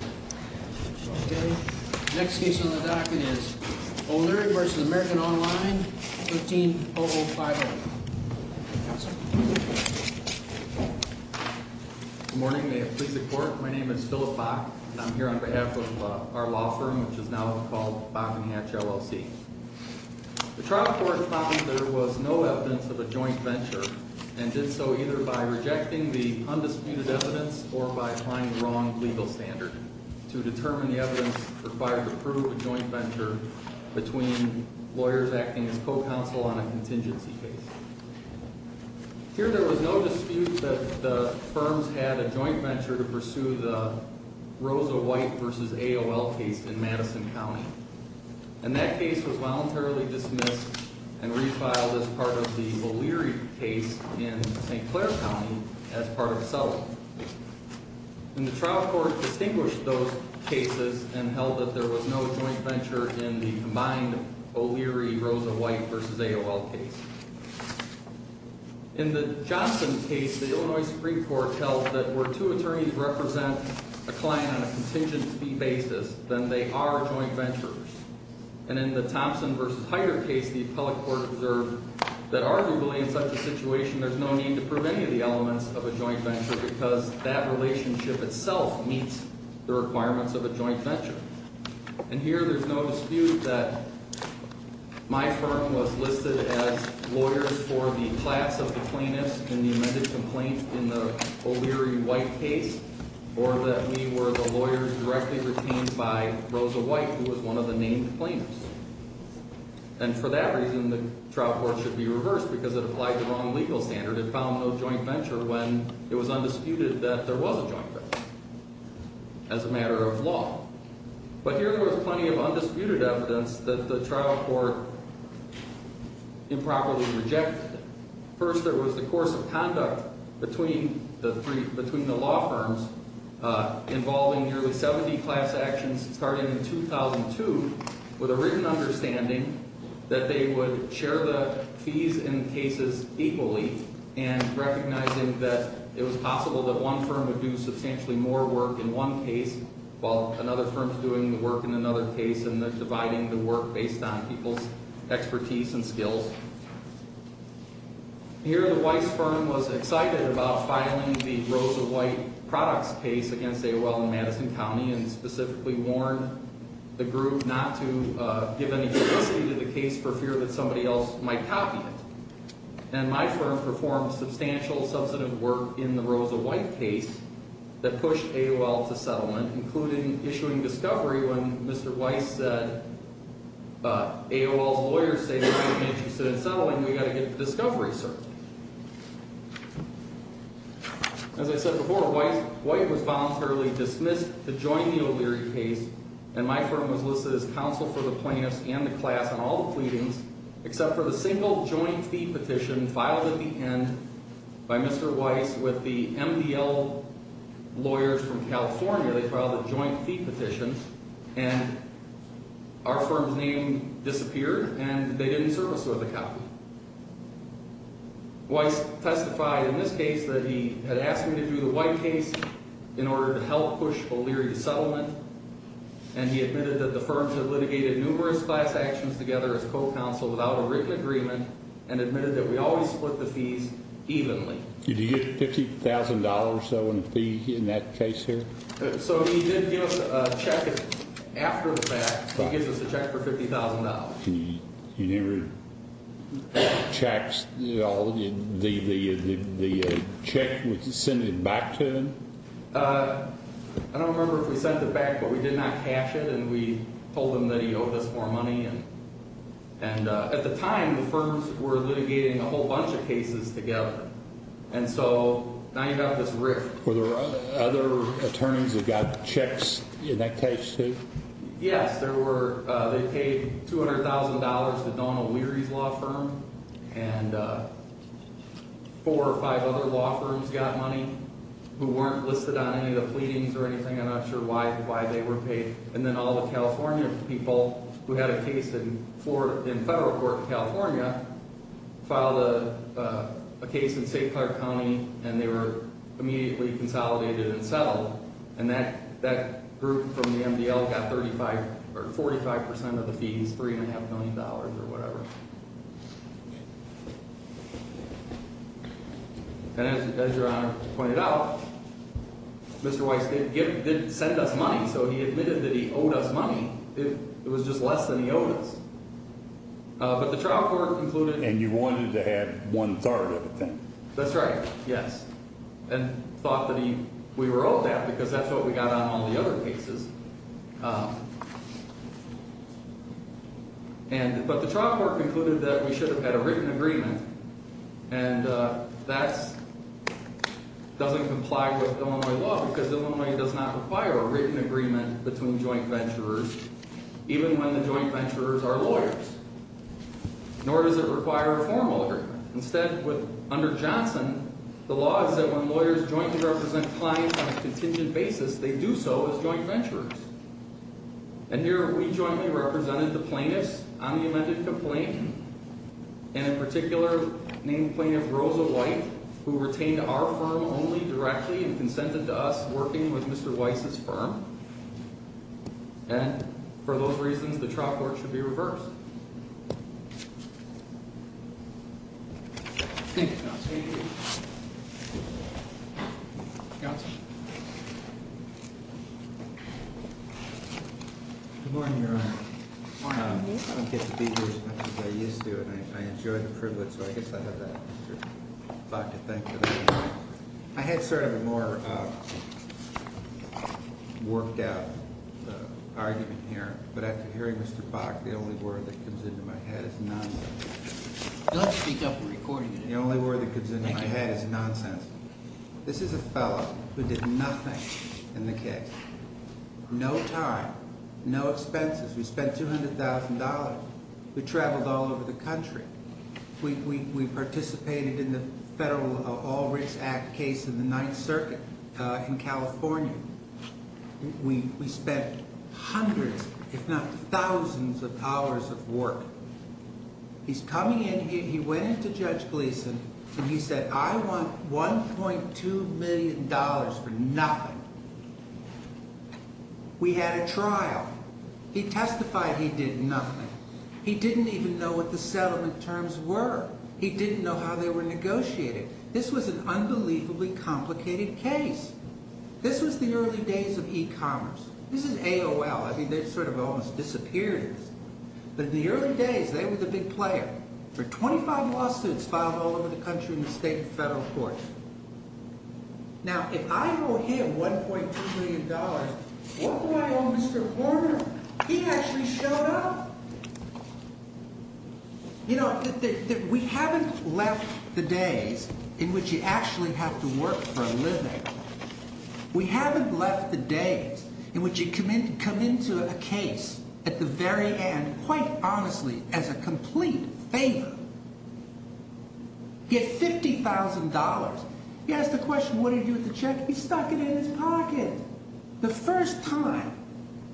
Okay, next case on the docket is O'Leary v. American Online, 13-0050. Good morning, may it please the court. My name is Philip Bach, and I'm here on behalf of our law firm, which is now called Bach & Hatch LLC. The trial court found there was no evidence of a joint venture, and did so either by rejecting the undisputed evidence or by applying the wrong legal standard to determine the evidence required to prove a joint venture between lawyers acting as co-counsel on a contingency case. Here there was no dispute that the firms had a joint venture to pursue the Rosa White v. AOL case in Madison County. And that case was voluntarily dismissed and refiled as part of the O'Leary case in St. Clair County as part of a settlement. And the trial court distinguished those cases and held that there was no joint venture in the combined O'Leary-Rosa White v. AOL case. In the Johnson case, the Illinois Supreme Court held that were two attorneys represent a client on a contingency basis, then they are joint ventures. And in the Thompson v. Hyder case, the appellate court observed that arguably in such a situation, there's no need to prove any of the elements of a joint venture because that relationship itself meets the requirements of a joint venture. And here there's no dispute that my firm was listed as lawyers for the class of the plaintiffs in the amended complaint in the O'Leary-White case, or that we were the lawyers directly retained by Rosa White who was one of the named plaintiffs. And for that reason, the trial court should be reversed because it applied the wrong legal standard and found no joint venture when it was undisputed that there was a joint venture as a matter of law. But here there was plenty of undisputed evidence that the trial court improperly rejected. First, there was the course of conduct between the law firms involving nearly 70 class actions starting in 2002 with a written understanding that they would share the fees in cases equally and recognizing that it was possible that one firm would do substantially more work in one case while another firm's doing the work in another case and dividing the work based on people's expertise and skills. Here the Weiss firm was excited about filing the Rosa White products case against AOL in Madison County and specifically warned the group not to give any publicity to the case for fear that somebody else might copy it. And my firm performed substantial, substantive work in the Rosa White case that pushed AOL to settlement, including issuing discovery when Mr. Weiss said, AOL's lawyers say they're not interested in settling, we've got to get the discovery, sir. As I said before, Weiss, White was voluntarily dismissed to join the O'Leary case and my firm was listed as counsel for the plaintiffs and the class on all the pleadings except for the single joint fee petition filed at the end by Mr. Weiss with the MDL lawyers from California, they filed a joint fee petition and our firm's name disappeared and they didn't serve us worth a copy. Weiss testified in this case that he had asked me to do the White case in order to help push O'Leary to settlement and he admitted that the firms had litigated numerous class actions together as co-counsel without a written agreement and admitted that we always split the fees evenly. Did he get $50,000 or so in a fee in that case here? So he did give us a check after the fact, he gives us a check for $50,000. You never checked the check and sent it back to him? I don't remember if we sent it back but we did not cash it and we told him that he owed us more money and at the time the firms were litigating a whole bunch of cases together and so now you have this rift. Were there other attorneys that got checks in that case too? Yes, they paid $200,000 to Donald O'Leary's law firm and four or five other law firms got money who weren't listed on any of the pleadings or anything, I'm not sure why they were paid. And then all the California people who had a case in federal court in California filed a case in St. Clair County and they were immediately consolidated and settled and that group from the MDL got 45% of the fees, $3.5 million or whatever. And as Your Honor pointed out, Mr. Weiss didn't send us money so he admitted that he owed us money, it was just less than he owed us. But the trial court concluded. And you wanted to have one third of the thing. That's right, yes. And thought that we were owed that because that's what we got on all the other cases. But the trial court concluded that we should have had a written agreement and that doesn't comply with Illinois law because Illinois does not require a written agreement between joint venturers even when the joint venturers are lawyers. Nor does it require a formal agreement. Instead, under Johnson, the law is that when lawyers jointly represent clients on a contingent basis, they do so as joint venturers. And here we jointly represented the plaintiffs on the amended complaint and in particular named plaintiff Rosa White who retained our firm only directly and consented to us working with Mr. Weiss's firm. And for those reasons, the trial court should be reversed. Thank you, counsel. Counsel? Good morning, Your Honor. I don't get to be here as much as I used to and I enjoy the privilege so I guess I have that Mr. Bach to thank for that. I had sort of a more worked out argument here, but after hearing Mr. Bach, the only word that comes into my head is none. You'll have to speak up for recording today. The only word that comes into my head is nonsense. This is a fellow who did nothing in the case. No time, no expenses. We spent $200,000. We traveled all over the country. We participated in the federal All Rights Act case in the Ninth Circuit in California. We spent hundreds, if not thousands of hours of work. He's coming in here. He went in to Judge Gleeson and he said, I want $1.2 million for nothing. We had a trial. He testified he did nothing. He didn't even know what the settlement terms were. He didn't know how they were negotiated. This was an unbelievably complicated case. This was the early days of e-commerce. This is AOL. I mean, they sort of almost disappeared. But in the early days, they were the big player. There were 25 lawsuits filed all over the country in the state and federal courts. Now, if I owe him $1.2 million, what do I owe Mr. Horner? He actually showed up. You know, we haven't left the days in which you actually have to work for a living. We haven't left the days in which you come into a case at the very end, quite honestly, as a complete favor. You get $50,000. You ask the question, what did he do with the check? He stuck it in his pocket. The first time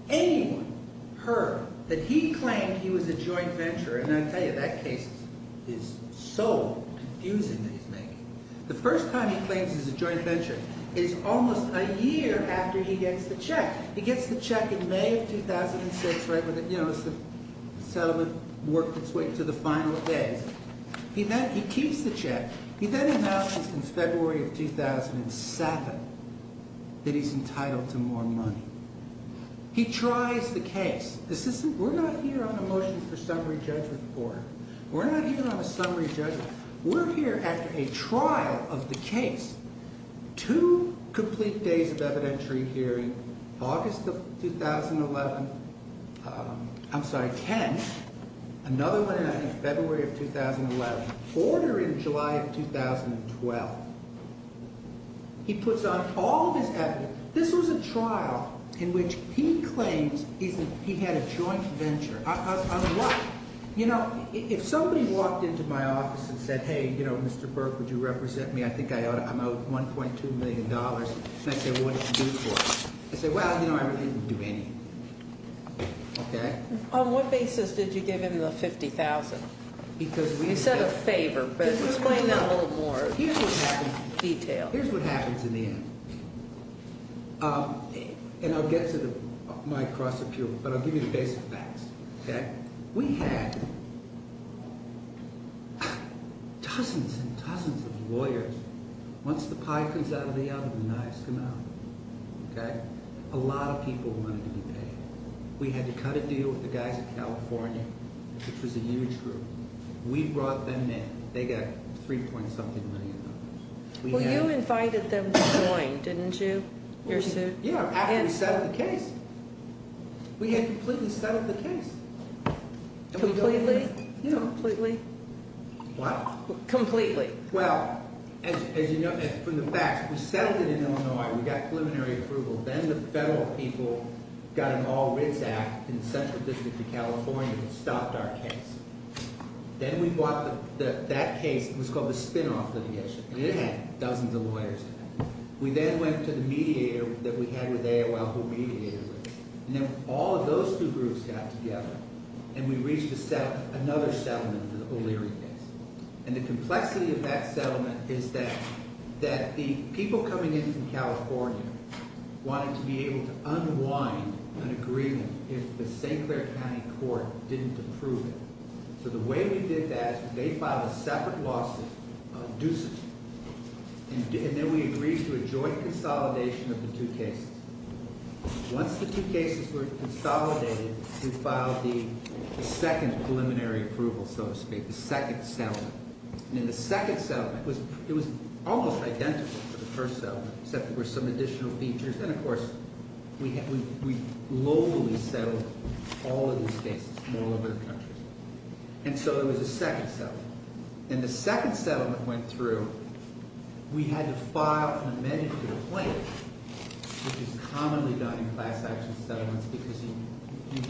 anyone heard that he claimed he was a joint venturer, and I tell you, that case is so confusing that he's making. The first time he claims he's a joint venturer is almost a year after he gets the check. He gets the check in May of 2006, right when the settlement worked its way to the final days. He keeps the check. He then announces in February of 2007 that he's entitled to more money. He tries the case. We're not here on a motion for summary judgment, Horner. We're not here on a summary judgment. We're here after a trial of the case. Two complete days of evidentiary hearing, August of 2011. I'm sorry, 10. Another one in, I think, February of 2011. Horner in July of 2012. He puts on all of his evidence. This was a trial in which he claims he had a joint venture. You know, if somebody walked into my office and said, hey, you know, Mr. Burke, would you represent me? I think I'm out $1.2 million. And I say, well, what did you do for it? They say, well, you know, I didn't do anything. Okay? On what basis did you give him the $50,000? You said a favor, but explain that a little more in detail. Here's what happens in the end. And I'll get to my cross appeal, but I'll give you the basic facts. Okay? We had dozens and dozens of lawyers. Once the pie comes out of the oven, the knives come out. Okay? A lot of people wanted to be paid. We had to cut a deal with the guys in California, which was a huge group. We brought them in. They got $3.something million. Well, you invited them to join, didn't you? Your suit? Yeah, after we settled the case. We had completely settled the case. Completely? You know, completely. What? Completely. Well, as you know from the facts, we settled it in Illinois. We got preliminary approval. Then the federal people got an all writs act in the Central District of California that stopped our case. Then we bought that case. It was called the spinoff litigation. And it had dozens of lawyers. We then went to the mediator that we had with AOL, who mediated with us. And then all of those two groups got together, and we reached another settlement for the O'Leary case. And the complexity of that settlement is that the people coming in from California wanted to be able to unwind an agreement if the St. Clair County Court didn't approve it. So the way we did that is they filed a separate lawsuit on Ducey. And then we agreed to a joint consolidation of the two cases. Once the two cases were consolidated, we filed the second preliminary approval, so to speak. The second settlement. And in the second settlement, it was almost identical to the first settlement, except there were some additional features. And of course, we globally settled all of these cases from all over the country. And so it was a second settlement. And the second settlement went through. We had to file an amendment to the plaintiff, which is commonly done in class action settlements, because you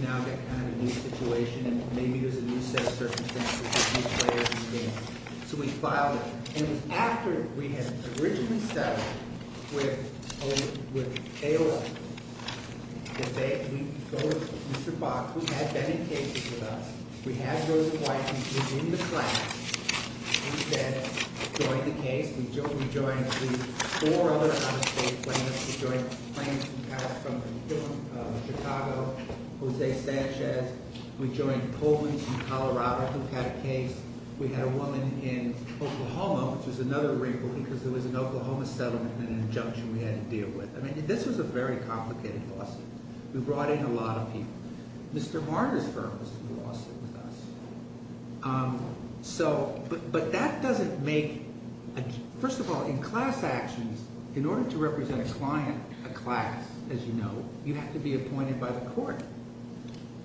now get kind of a new situation, and maybe there's a new set of circumstances that these players may face. So we filed it. And after we had originally settled with AOL, Mr. Fox, who had been in cases with us. We had those clients who were in the class. We then joined the case. We joined the four other out-of-state plaintiffs. We joined plaintiffs who passed from Chicago, Jose Sanchez. We had a woman in Oklahoma, which was another rebellion, because there was an Oklahoma settlement and an injunction we had to deal with. I mean, this was a very complicated lawsuit. We brought in a lot of people. Mr. Marner's firm was in the lawsuit with us. So, but that doesn't make, first of all, in class actions, in order to represent a client, a class, as you know, you have to be appointed by the court.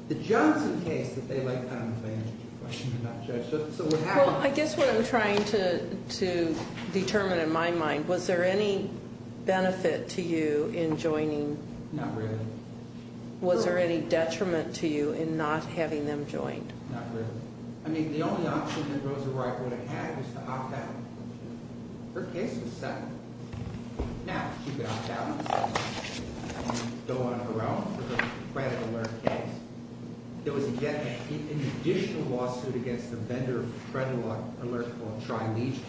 The Johnson case that they like, I don't know if I answered your question or not, Judge. Well, I guess what I'm trying to determine in my mind, was there any benefit to you in joining? Not really. Was there any detriment to you in not having them join? Not really. I mean, the only option that Rosa Wright would have had was to hop out. Her case was settled. Now, she got out and go on her own with her credit alert case. There was an additional lawsuit against a vendor of credit alert called Trilegion.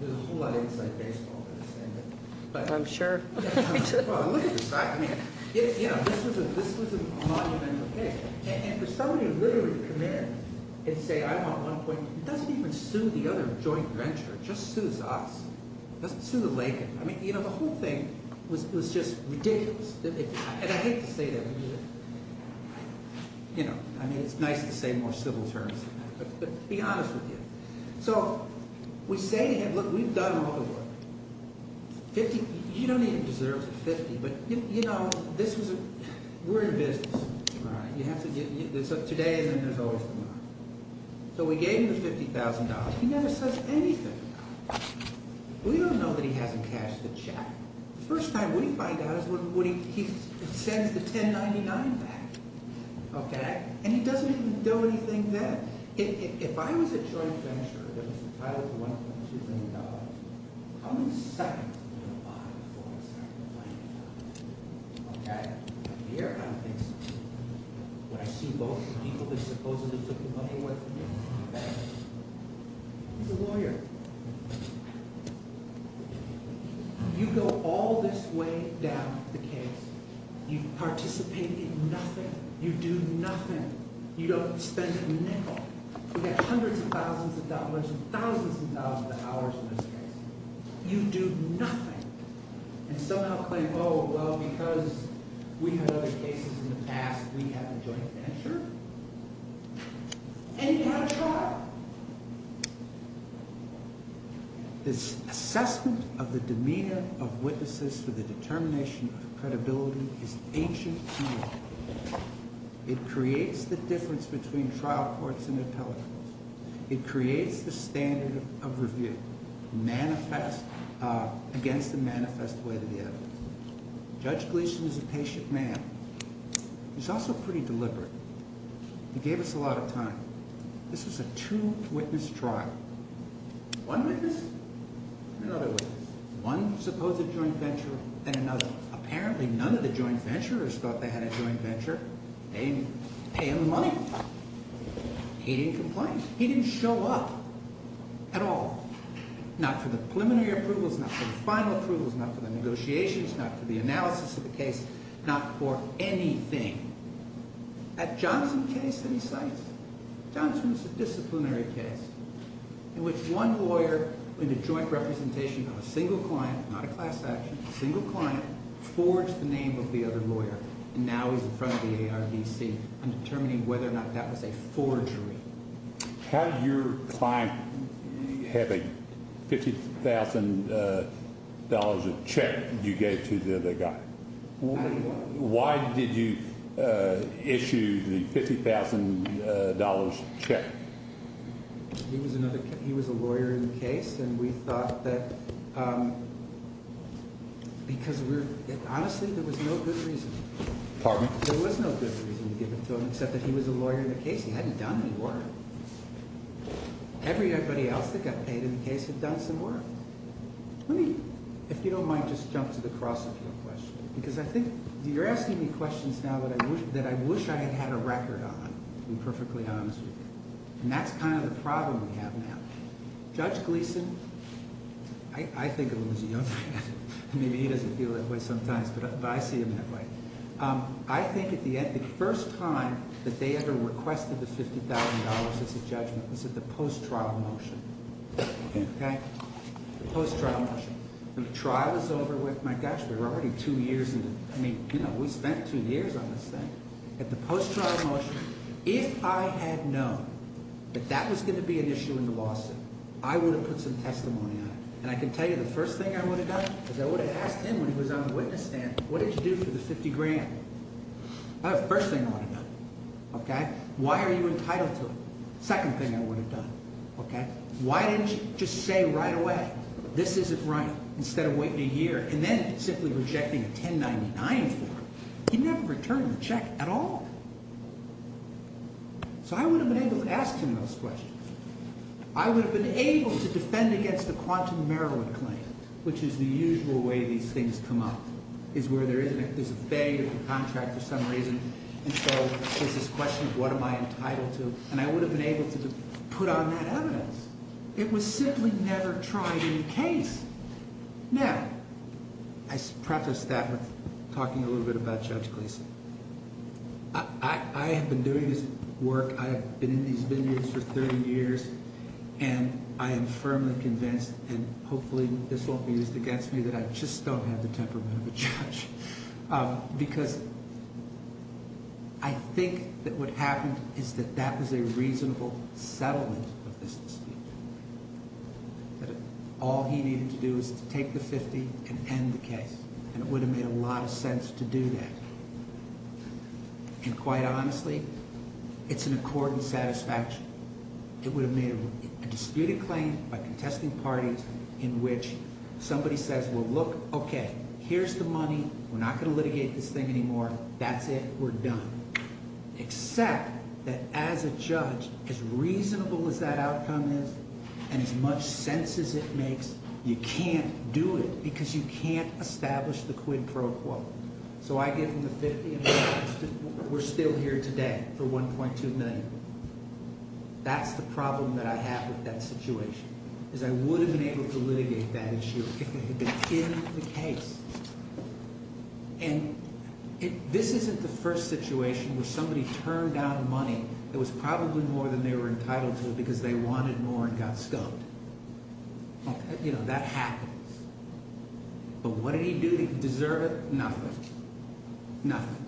There's a whole lot of inside baseball in this, isn't there? I'm sure. Well, look at this. I mean, this was a monumental case. And for somebody to literally come in and say, I want one point, it doesn't even sue the other joint venture. It just sues us. It doesn't sue the Lincoln. I mean, you know, the whole thing was just ridiculous. And I hate to say that. You know, I mean, it's nice to say more civil terms than that, but to be honest with you. So, we say, look, we've done all the work. Fifty, you don't even deserve fifty, but you know, this was a, we're in business. So, today isn't as old as tomorrow. So, we gave him the $50,000. He never says anything about it. We don't know that he hasn't cashed the check. The first time we find out is when he sends the 1099 back. Okay? And he doesn't even do anything then. If I was a joint venture that was entitled to $1.2 billion, how many seconds would I have bought it for instead of the $90,000? Okay. Here are the things. When I see both the people that supposedly took the money away from me. He's a lawyer. You go all this way down the case. You participate in nothing. You do nothing. You don't spend a nickel. You get hundreds of thousands of dollars and thousands of thousands of hours in this case. You do nothing. And somehow claim, oh, well, because we had other cases in the past, we have a joint venture. And you have a trial. This assessment of the demeanor of witnesses for the determination of credibility is ancient to law. It creates the difference between trial courts and appellate courts. It creates the standard of review. Manifest against the manifest way to the evidence. Judge Gleeson is a patient man. He's also pretty deliberate. He gave us a lot of time. This is a two-witness trial. One witness and another witness. One supposed joint venture and another. Apparently, none of the joint venturers thought they had a joint venture. They didn't pay him the money. He didn't complain. He didn't show up at all. Not for the preliminary approvals. Not for the final approvals. Not for the negotiations. Not for the analysis of the case. Not for anything. That Johnson case that he cites, Johnson's a disciplinary case. In which one lawyer in the joint representation of a single client, not a class action, a single client, forged the name of the other lawyer. And now he's in front of the ARDC and determining whether or not that was a forgery. How did your client have a $50,000 check you gave to the other guy? Why did you issue the $50,000 check? He was a lawyer in the case. And we thought that, because we were, honestly, there was no good reason. Pardon me? There was no good reason to give it to him, except that he was a lawyer in the case. He hadn't done any work. Everybody else that got paid in the case had done some work. Let me, if you don't mind, just jump to the cross of your question. Because I think, you're asking me questions now that I wish I had had a record on, to be perfectly honest with you. And that's kind of the problem we have now. Judge Gleeson, I think of him as a young man. Maybe he doesn't feel that way sometimes, but I see him that way. I think at the end, the first time that they ever requested the $50,000 as a judgment was at the post-trial motion. Okay? The post-trial motion. And the trial was over with, my gosh, we were already two years into it. I mean, you know, we spent two years on this thing. At the post-trial motion, if I had known that that was going to be an issue in the lawsuit, I would have put some testimony on it. And I can tell you the first thing I would have done is I would have asked him when he was on the witness stand, what did you do for the $50,000? That was the first thing I would have done. Why are you entitled to it? Second thing I would have done. Why didn't you just say right away, this isn't right, instead of waiting a year and then simply rejecting a 1099 form? He never returned the check at all. So I would have been able to ask him those questions. I would have been able to defend against the Quantum Maryland claim, which is the usual way these things come up, is where there is a vague contract for some reason. And so there's this question of what am I entitled to? And I would have been able to put on that evidence. It was simply never tried in the case. Now, I preface that with talking a little bit about Judge Gleeson. I have been doing this work, I have been in these vineyards for 30 years, and I am firmly convinced, and hopefully this won't be used against me, that I just don't have the temperament of a judge. Because I think that what happened is that that was a reasonable settlement of this dispute. That all he needed to do was to take the $50,000 and end the case. And it would have made a lot of sense to do that. And quite honestly, it's an accord and satisfaction. It would have made a disputed claim by contesting parties in which somebody says, well look, okay, here's the money, we're not going to litigate this thing anymore, that's it, we're done. Except that as a judge, as reasonable as that outcome is, and as much sense as it makes, you can't do it because you can't establish the quid pro quo. So I give him the $50,000, we're still here today for $1.2 million. That's the problem that I have with that situation, is I would have been able to litigate that issue if it had been in the case. And this isn't the first situation where somebody turned down money that was probably more than they were entitled to because they wanted more and got scoped. You know, that happens. But what did he do that he deserved it? Nothing. Nothing.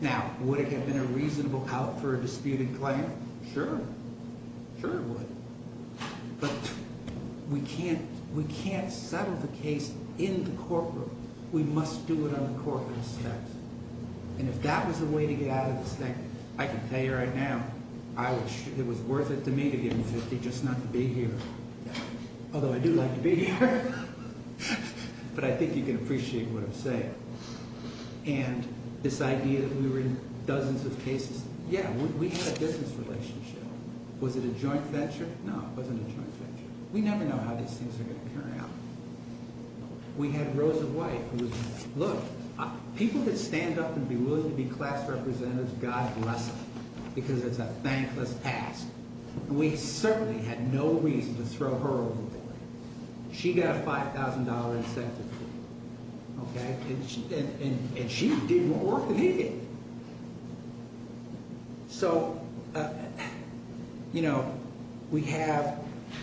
Now, would it have been a reasonable out for a disputed claim? Sure. Sure it would. But we can't settle the case in the courtroom. We must do it on the courtroom steps. And if that was the way to get out of this thing, I can tell you right now, it was worth it to me to give him $50,000 just not to be here. Although I do like to be here. But I think you can appreciate what I'm saying. And this idea that we were in dozens of cases, yeah, we had a business relationship. Was it a joint venture? No, it wasn't a joint venture. We never know how these things are going to turn out. We had Rosa White. Look, people that stand up and be willing to be class representatives, God bless them. Because it's a thankless task. And we certainly had no reason to throw her over the door. She got a $5,000 incentive. Okay? And she did more work than he did. So, you know, we have,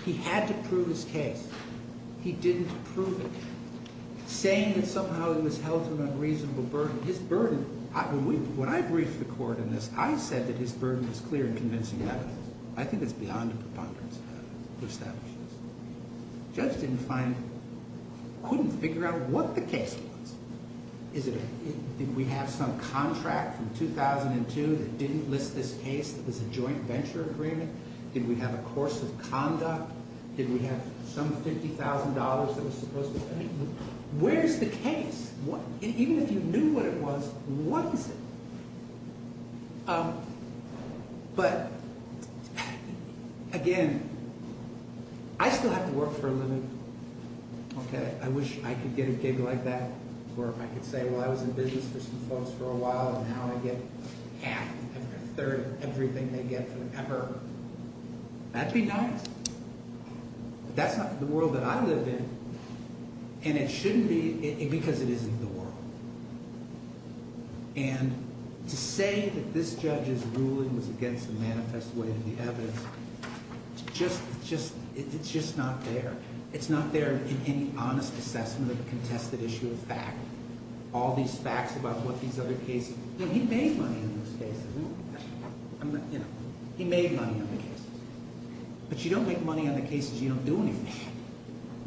he had to prove his case. He didn't prove it. Saying that somehow he was held to an unreasonable burden. His burden, when I briefed the court on this, I said that his burden was clear in convincing evidence. I think it's beyond a preponderance of evidence to establish this. The judge didn't find, couldn't figure out what the case was. Did we have some contract from 2002 that didn't list this case that was a joint venture agreement? Did we have a course of conduct? Did we have some $50,000 that was supposed to pay? Where's the case? Even if you knew what it was, what is it? But, again, I still have to work for a living. Okay? I wish I could get a gig like that where I could say, well, I was in business for some folks for a while, and now I get half, a third of everything they get forever. That'd be nice. But that's not the world that I live in, and it shouldn't be, because it isn't the world. And to say that this judge's ruling was against the manifest way of the evidence, it's just not there. It's not there in any honest assessment of a contested issue of fact. All these facts about what these other cases, he made money on these cases. You know, he made money on the cases. But you don't make money on the cases you don't do anything.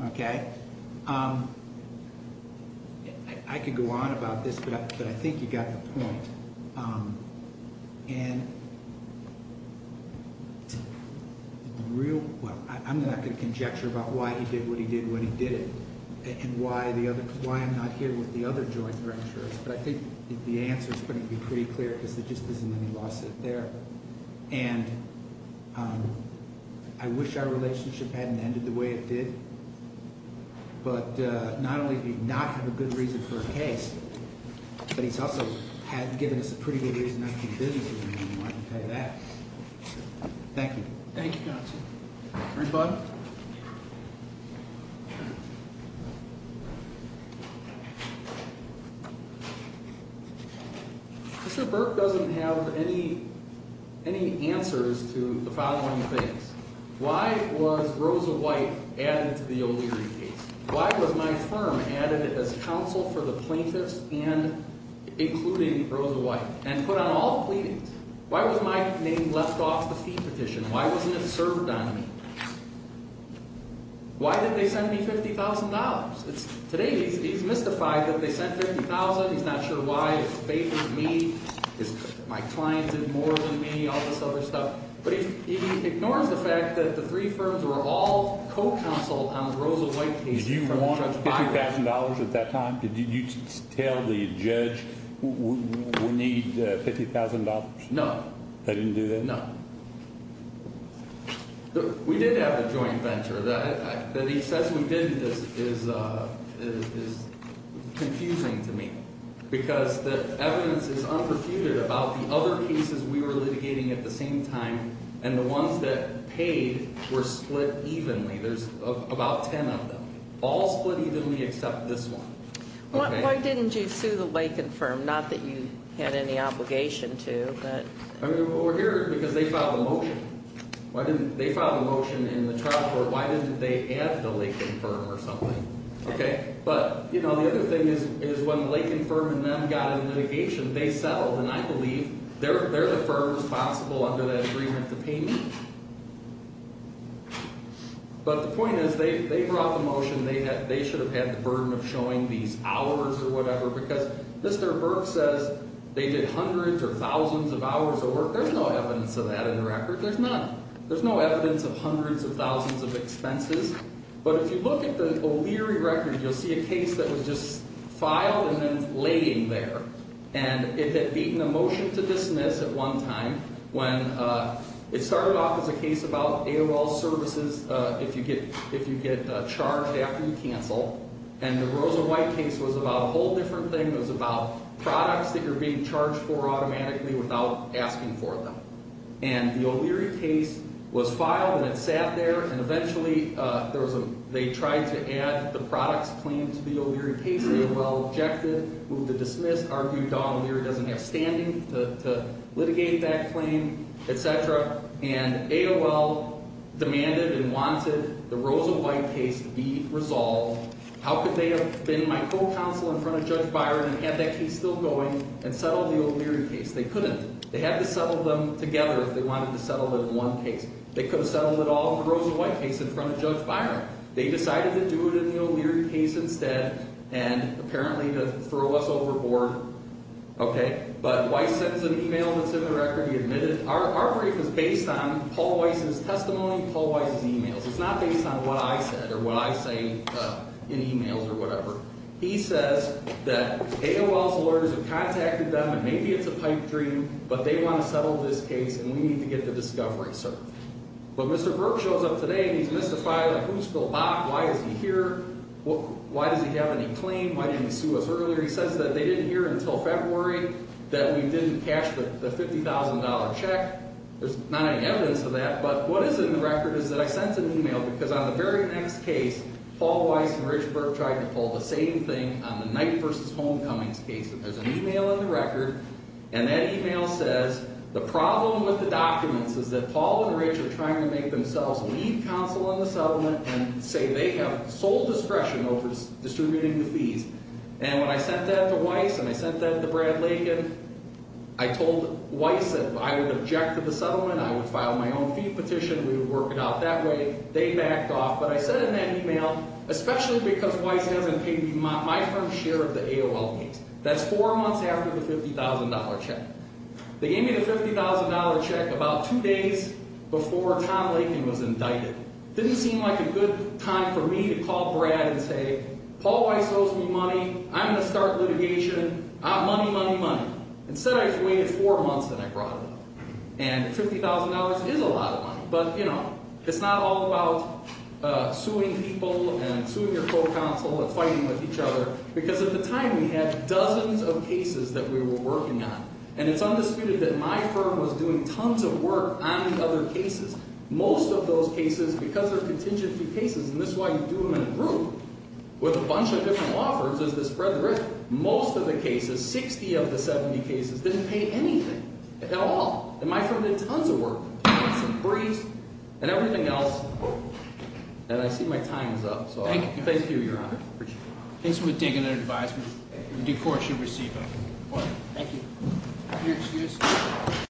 Okay? I could go on about this, but I think you got the point. And the real – well, I'm not going to conjecture about why he did what he did when he did it, and why I'm not here with the other joint ventures, but I think the answer's going to be pretty clear because there just isn't any lawsuit there. And I wish our relationship hadn't ended the way it did. But not only did he not have a good reason for a case, but he's also given us a pretty good reason not to do business with him, and I can tell you that. Thank you. Thank you, counsel. Rebut. Mr. Burke doesn't have any answers to the following things. Why was Rosa White added to the O'Leary case? Why was my firm added as counsel for the plaintiffs and including Rosa White and put on all the pleadings? Why was my name left off the fee petition? Why wasn't it served on me? Why did they send me $50,000? Today he's mystified that they sent $50,000. He's not sure why. Is faith in me? Is my client in more than me? All this other stuff. But he ignores the fact that the three firms were all co-counsel on the Rosa White case. Did you want $50,000 at that time? Did you tell the judge we need $50,000? No. We did have a joint venture. That he says we didn't is confusing to me. Because the evidence is unperfuted about the other cases we were litigating at the same time, and the ones that paid were split evenly. There's about ten of them. All split evenly except this one. Why didn't you sue the Lakin firm? Not that you had any obligation to. Well, we're here because they filed a motion. They filed a motion in the trial court. Why didn't they add the Lakin firm or something? But the other thing is when the Lakin firm and them got into litigation, they settled. And I believe they're the firm responsible under that agreement to pay me. But the point is they brought the motion. They should have had the burden of showing these hours or whatever. Because Mr. Burke says they did hundreds or thousands of hours of work. There's no evidence of that in the record. There's none. There's no evidence of hundreds of thousands of expenses. But if you look at the O'Leary record, you'll see a case that was just filed and then laying there. And it had beaten a motion to dismiss at one time when it started off as a case about AOL services if you get charged after you cancel. And the Rosa White case was about a whole different thing. It was about products that you're being charged for automatically without asking for them. And the O'Leary case was filed and it sat there. And eventually there was a – they tried to add the products claim to the O'Leary case. AOL objected, moved to dismiss, argued Don O'Leary doesn't have standing to litigate that claim, et cetera. And AOL demanded and wanted the Rosa White case to be resolved. How could they have been my co-counsel in front of Judge Byron and had that case still going and settled the O'Leary case? They couldn't. They had to settle them together if they wanted to settle it in one case. They could have settled it all in the Rosa White case in front of Judge Byron. They decided to do it in the O'Leary case instead and apparently to throw us overboard. Okay. But Weiss sends an email that's in the record. He admitted – our brief was based on Paul Weiss's testimony, Paul Weiss's emails. It's not based on what I said or what I say in emails or whatever. He says that AOL's lawyers have contacted them and maybe it's a pipe dream, but they want to settle this case and we need to get the discovery, sir. But Mr. Burke shows up today and he's mystified, like, who's Bill Bach? Why is he here? Why does he have any claim? Why didn't he sue us earlier? He says that they didn't hear until February that we didn't cash the $50,000 check. There's not any evidence of that, but what is in the record is that I sent an email because on the very next case, Paul Weiss and Rich Burke tried to pull the same thing on the Knight v. Homecomings case. There's an email in the record and that email says, the problem with the documents is that Paul and Rich are trying to make themselves lead counsel on the settlement and say they have sole discretion over distributing the fees. And when I sent that to Weiss and I sent that to Brad Lakin, I told Weiss that if I would object to the settlement, I would file my own fee petition. We would work it out that way. They backed off, but I said in that email, especially because Weiss hasn't paid my firm's share of the AOL case. That's four months after the $50,000 check. They gave me the $50,000 check about two days before Tom Lakin was indicted. It didn't seem like a good time for me to call Brad and say, Paul Weiss owes me money, I'm going to start litigation, money, money, money. Instead I waited four months and I brought it up. And $50,000 is a lot of money, but, you know, it's not all about suing people and suing your co-counsel and fighting with each other, because at the time we had dozens of cases that we were working on. And it's undisputed that my firm was doing tons of work on the other cases. Most of those cases, because they're contingency cases, and that's why you do them in a group with a bunch of different law firms, is to spread the risk. Most of the cases, 60 of the 70 cases, didn't pay anything at all. And my firm did tons of work. Some briefs and everything else. And I see my time is up. Thank you, Your Honor. Thanks for taking the advice. The court should receive it. Thank you.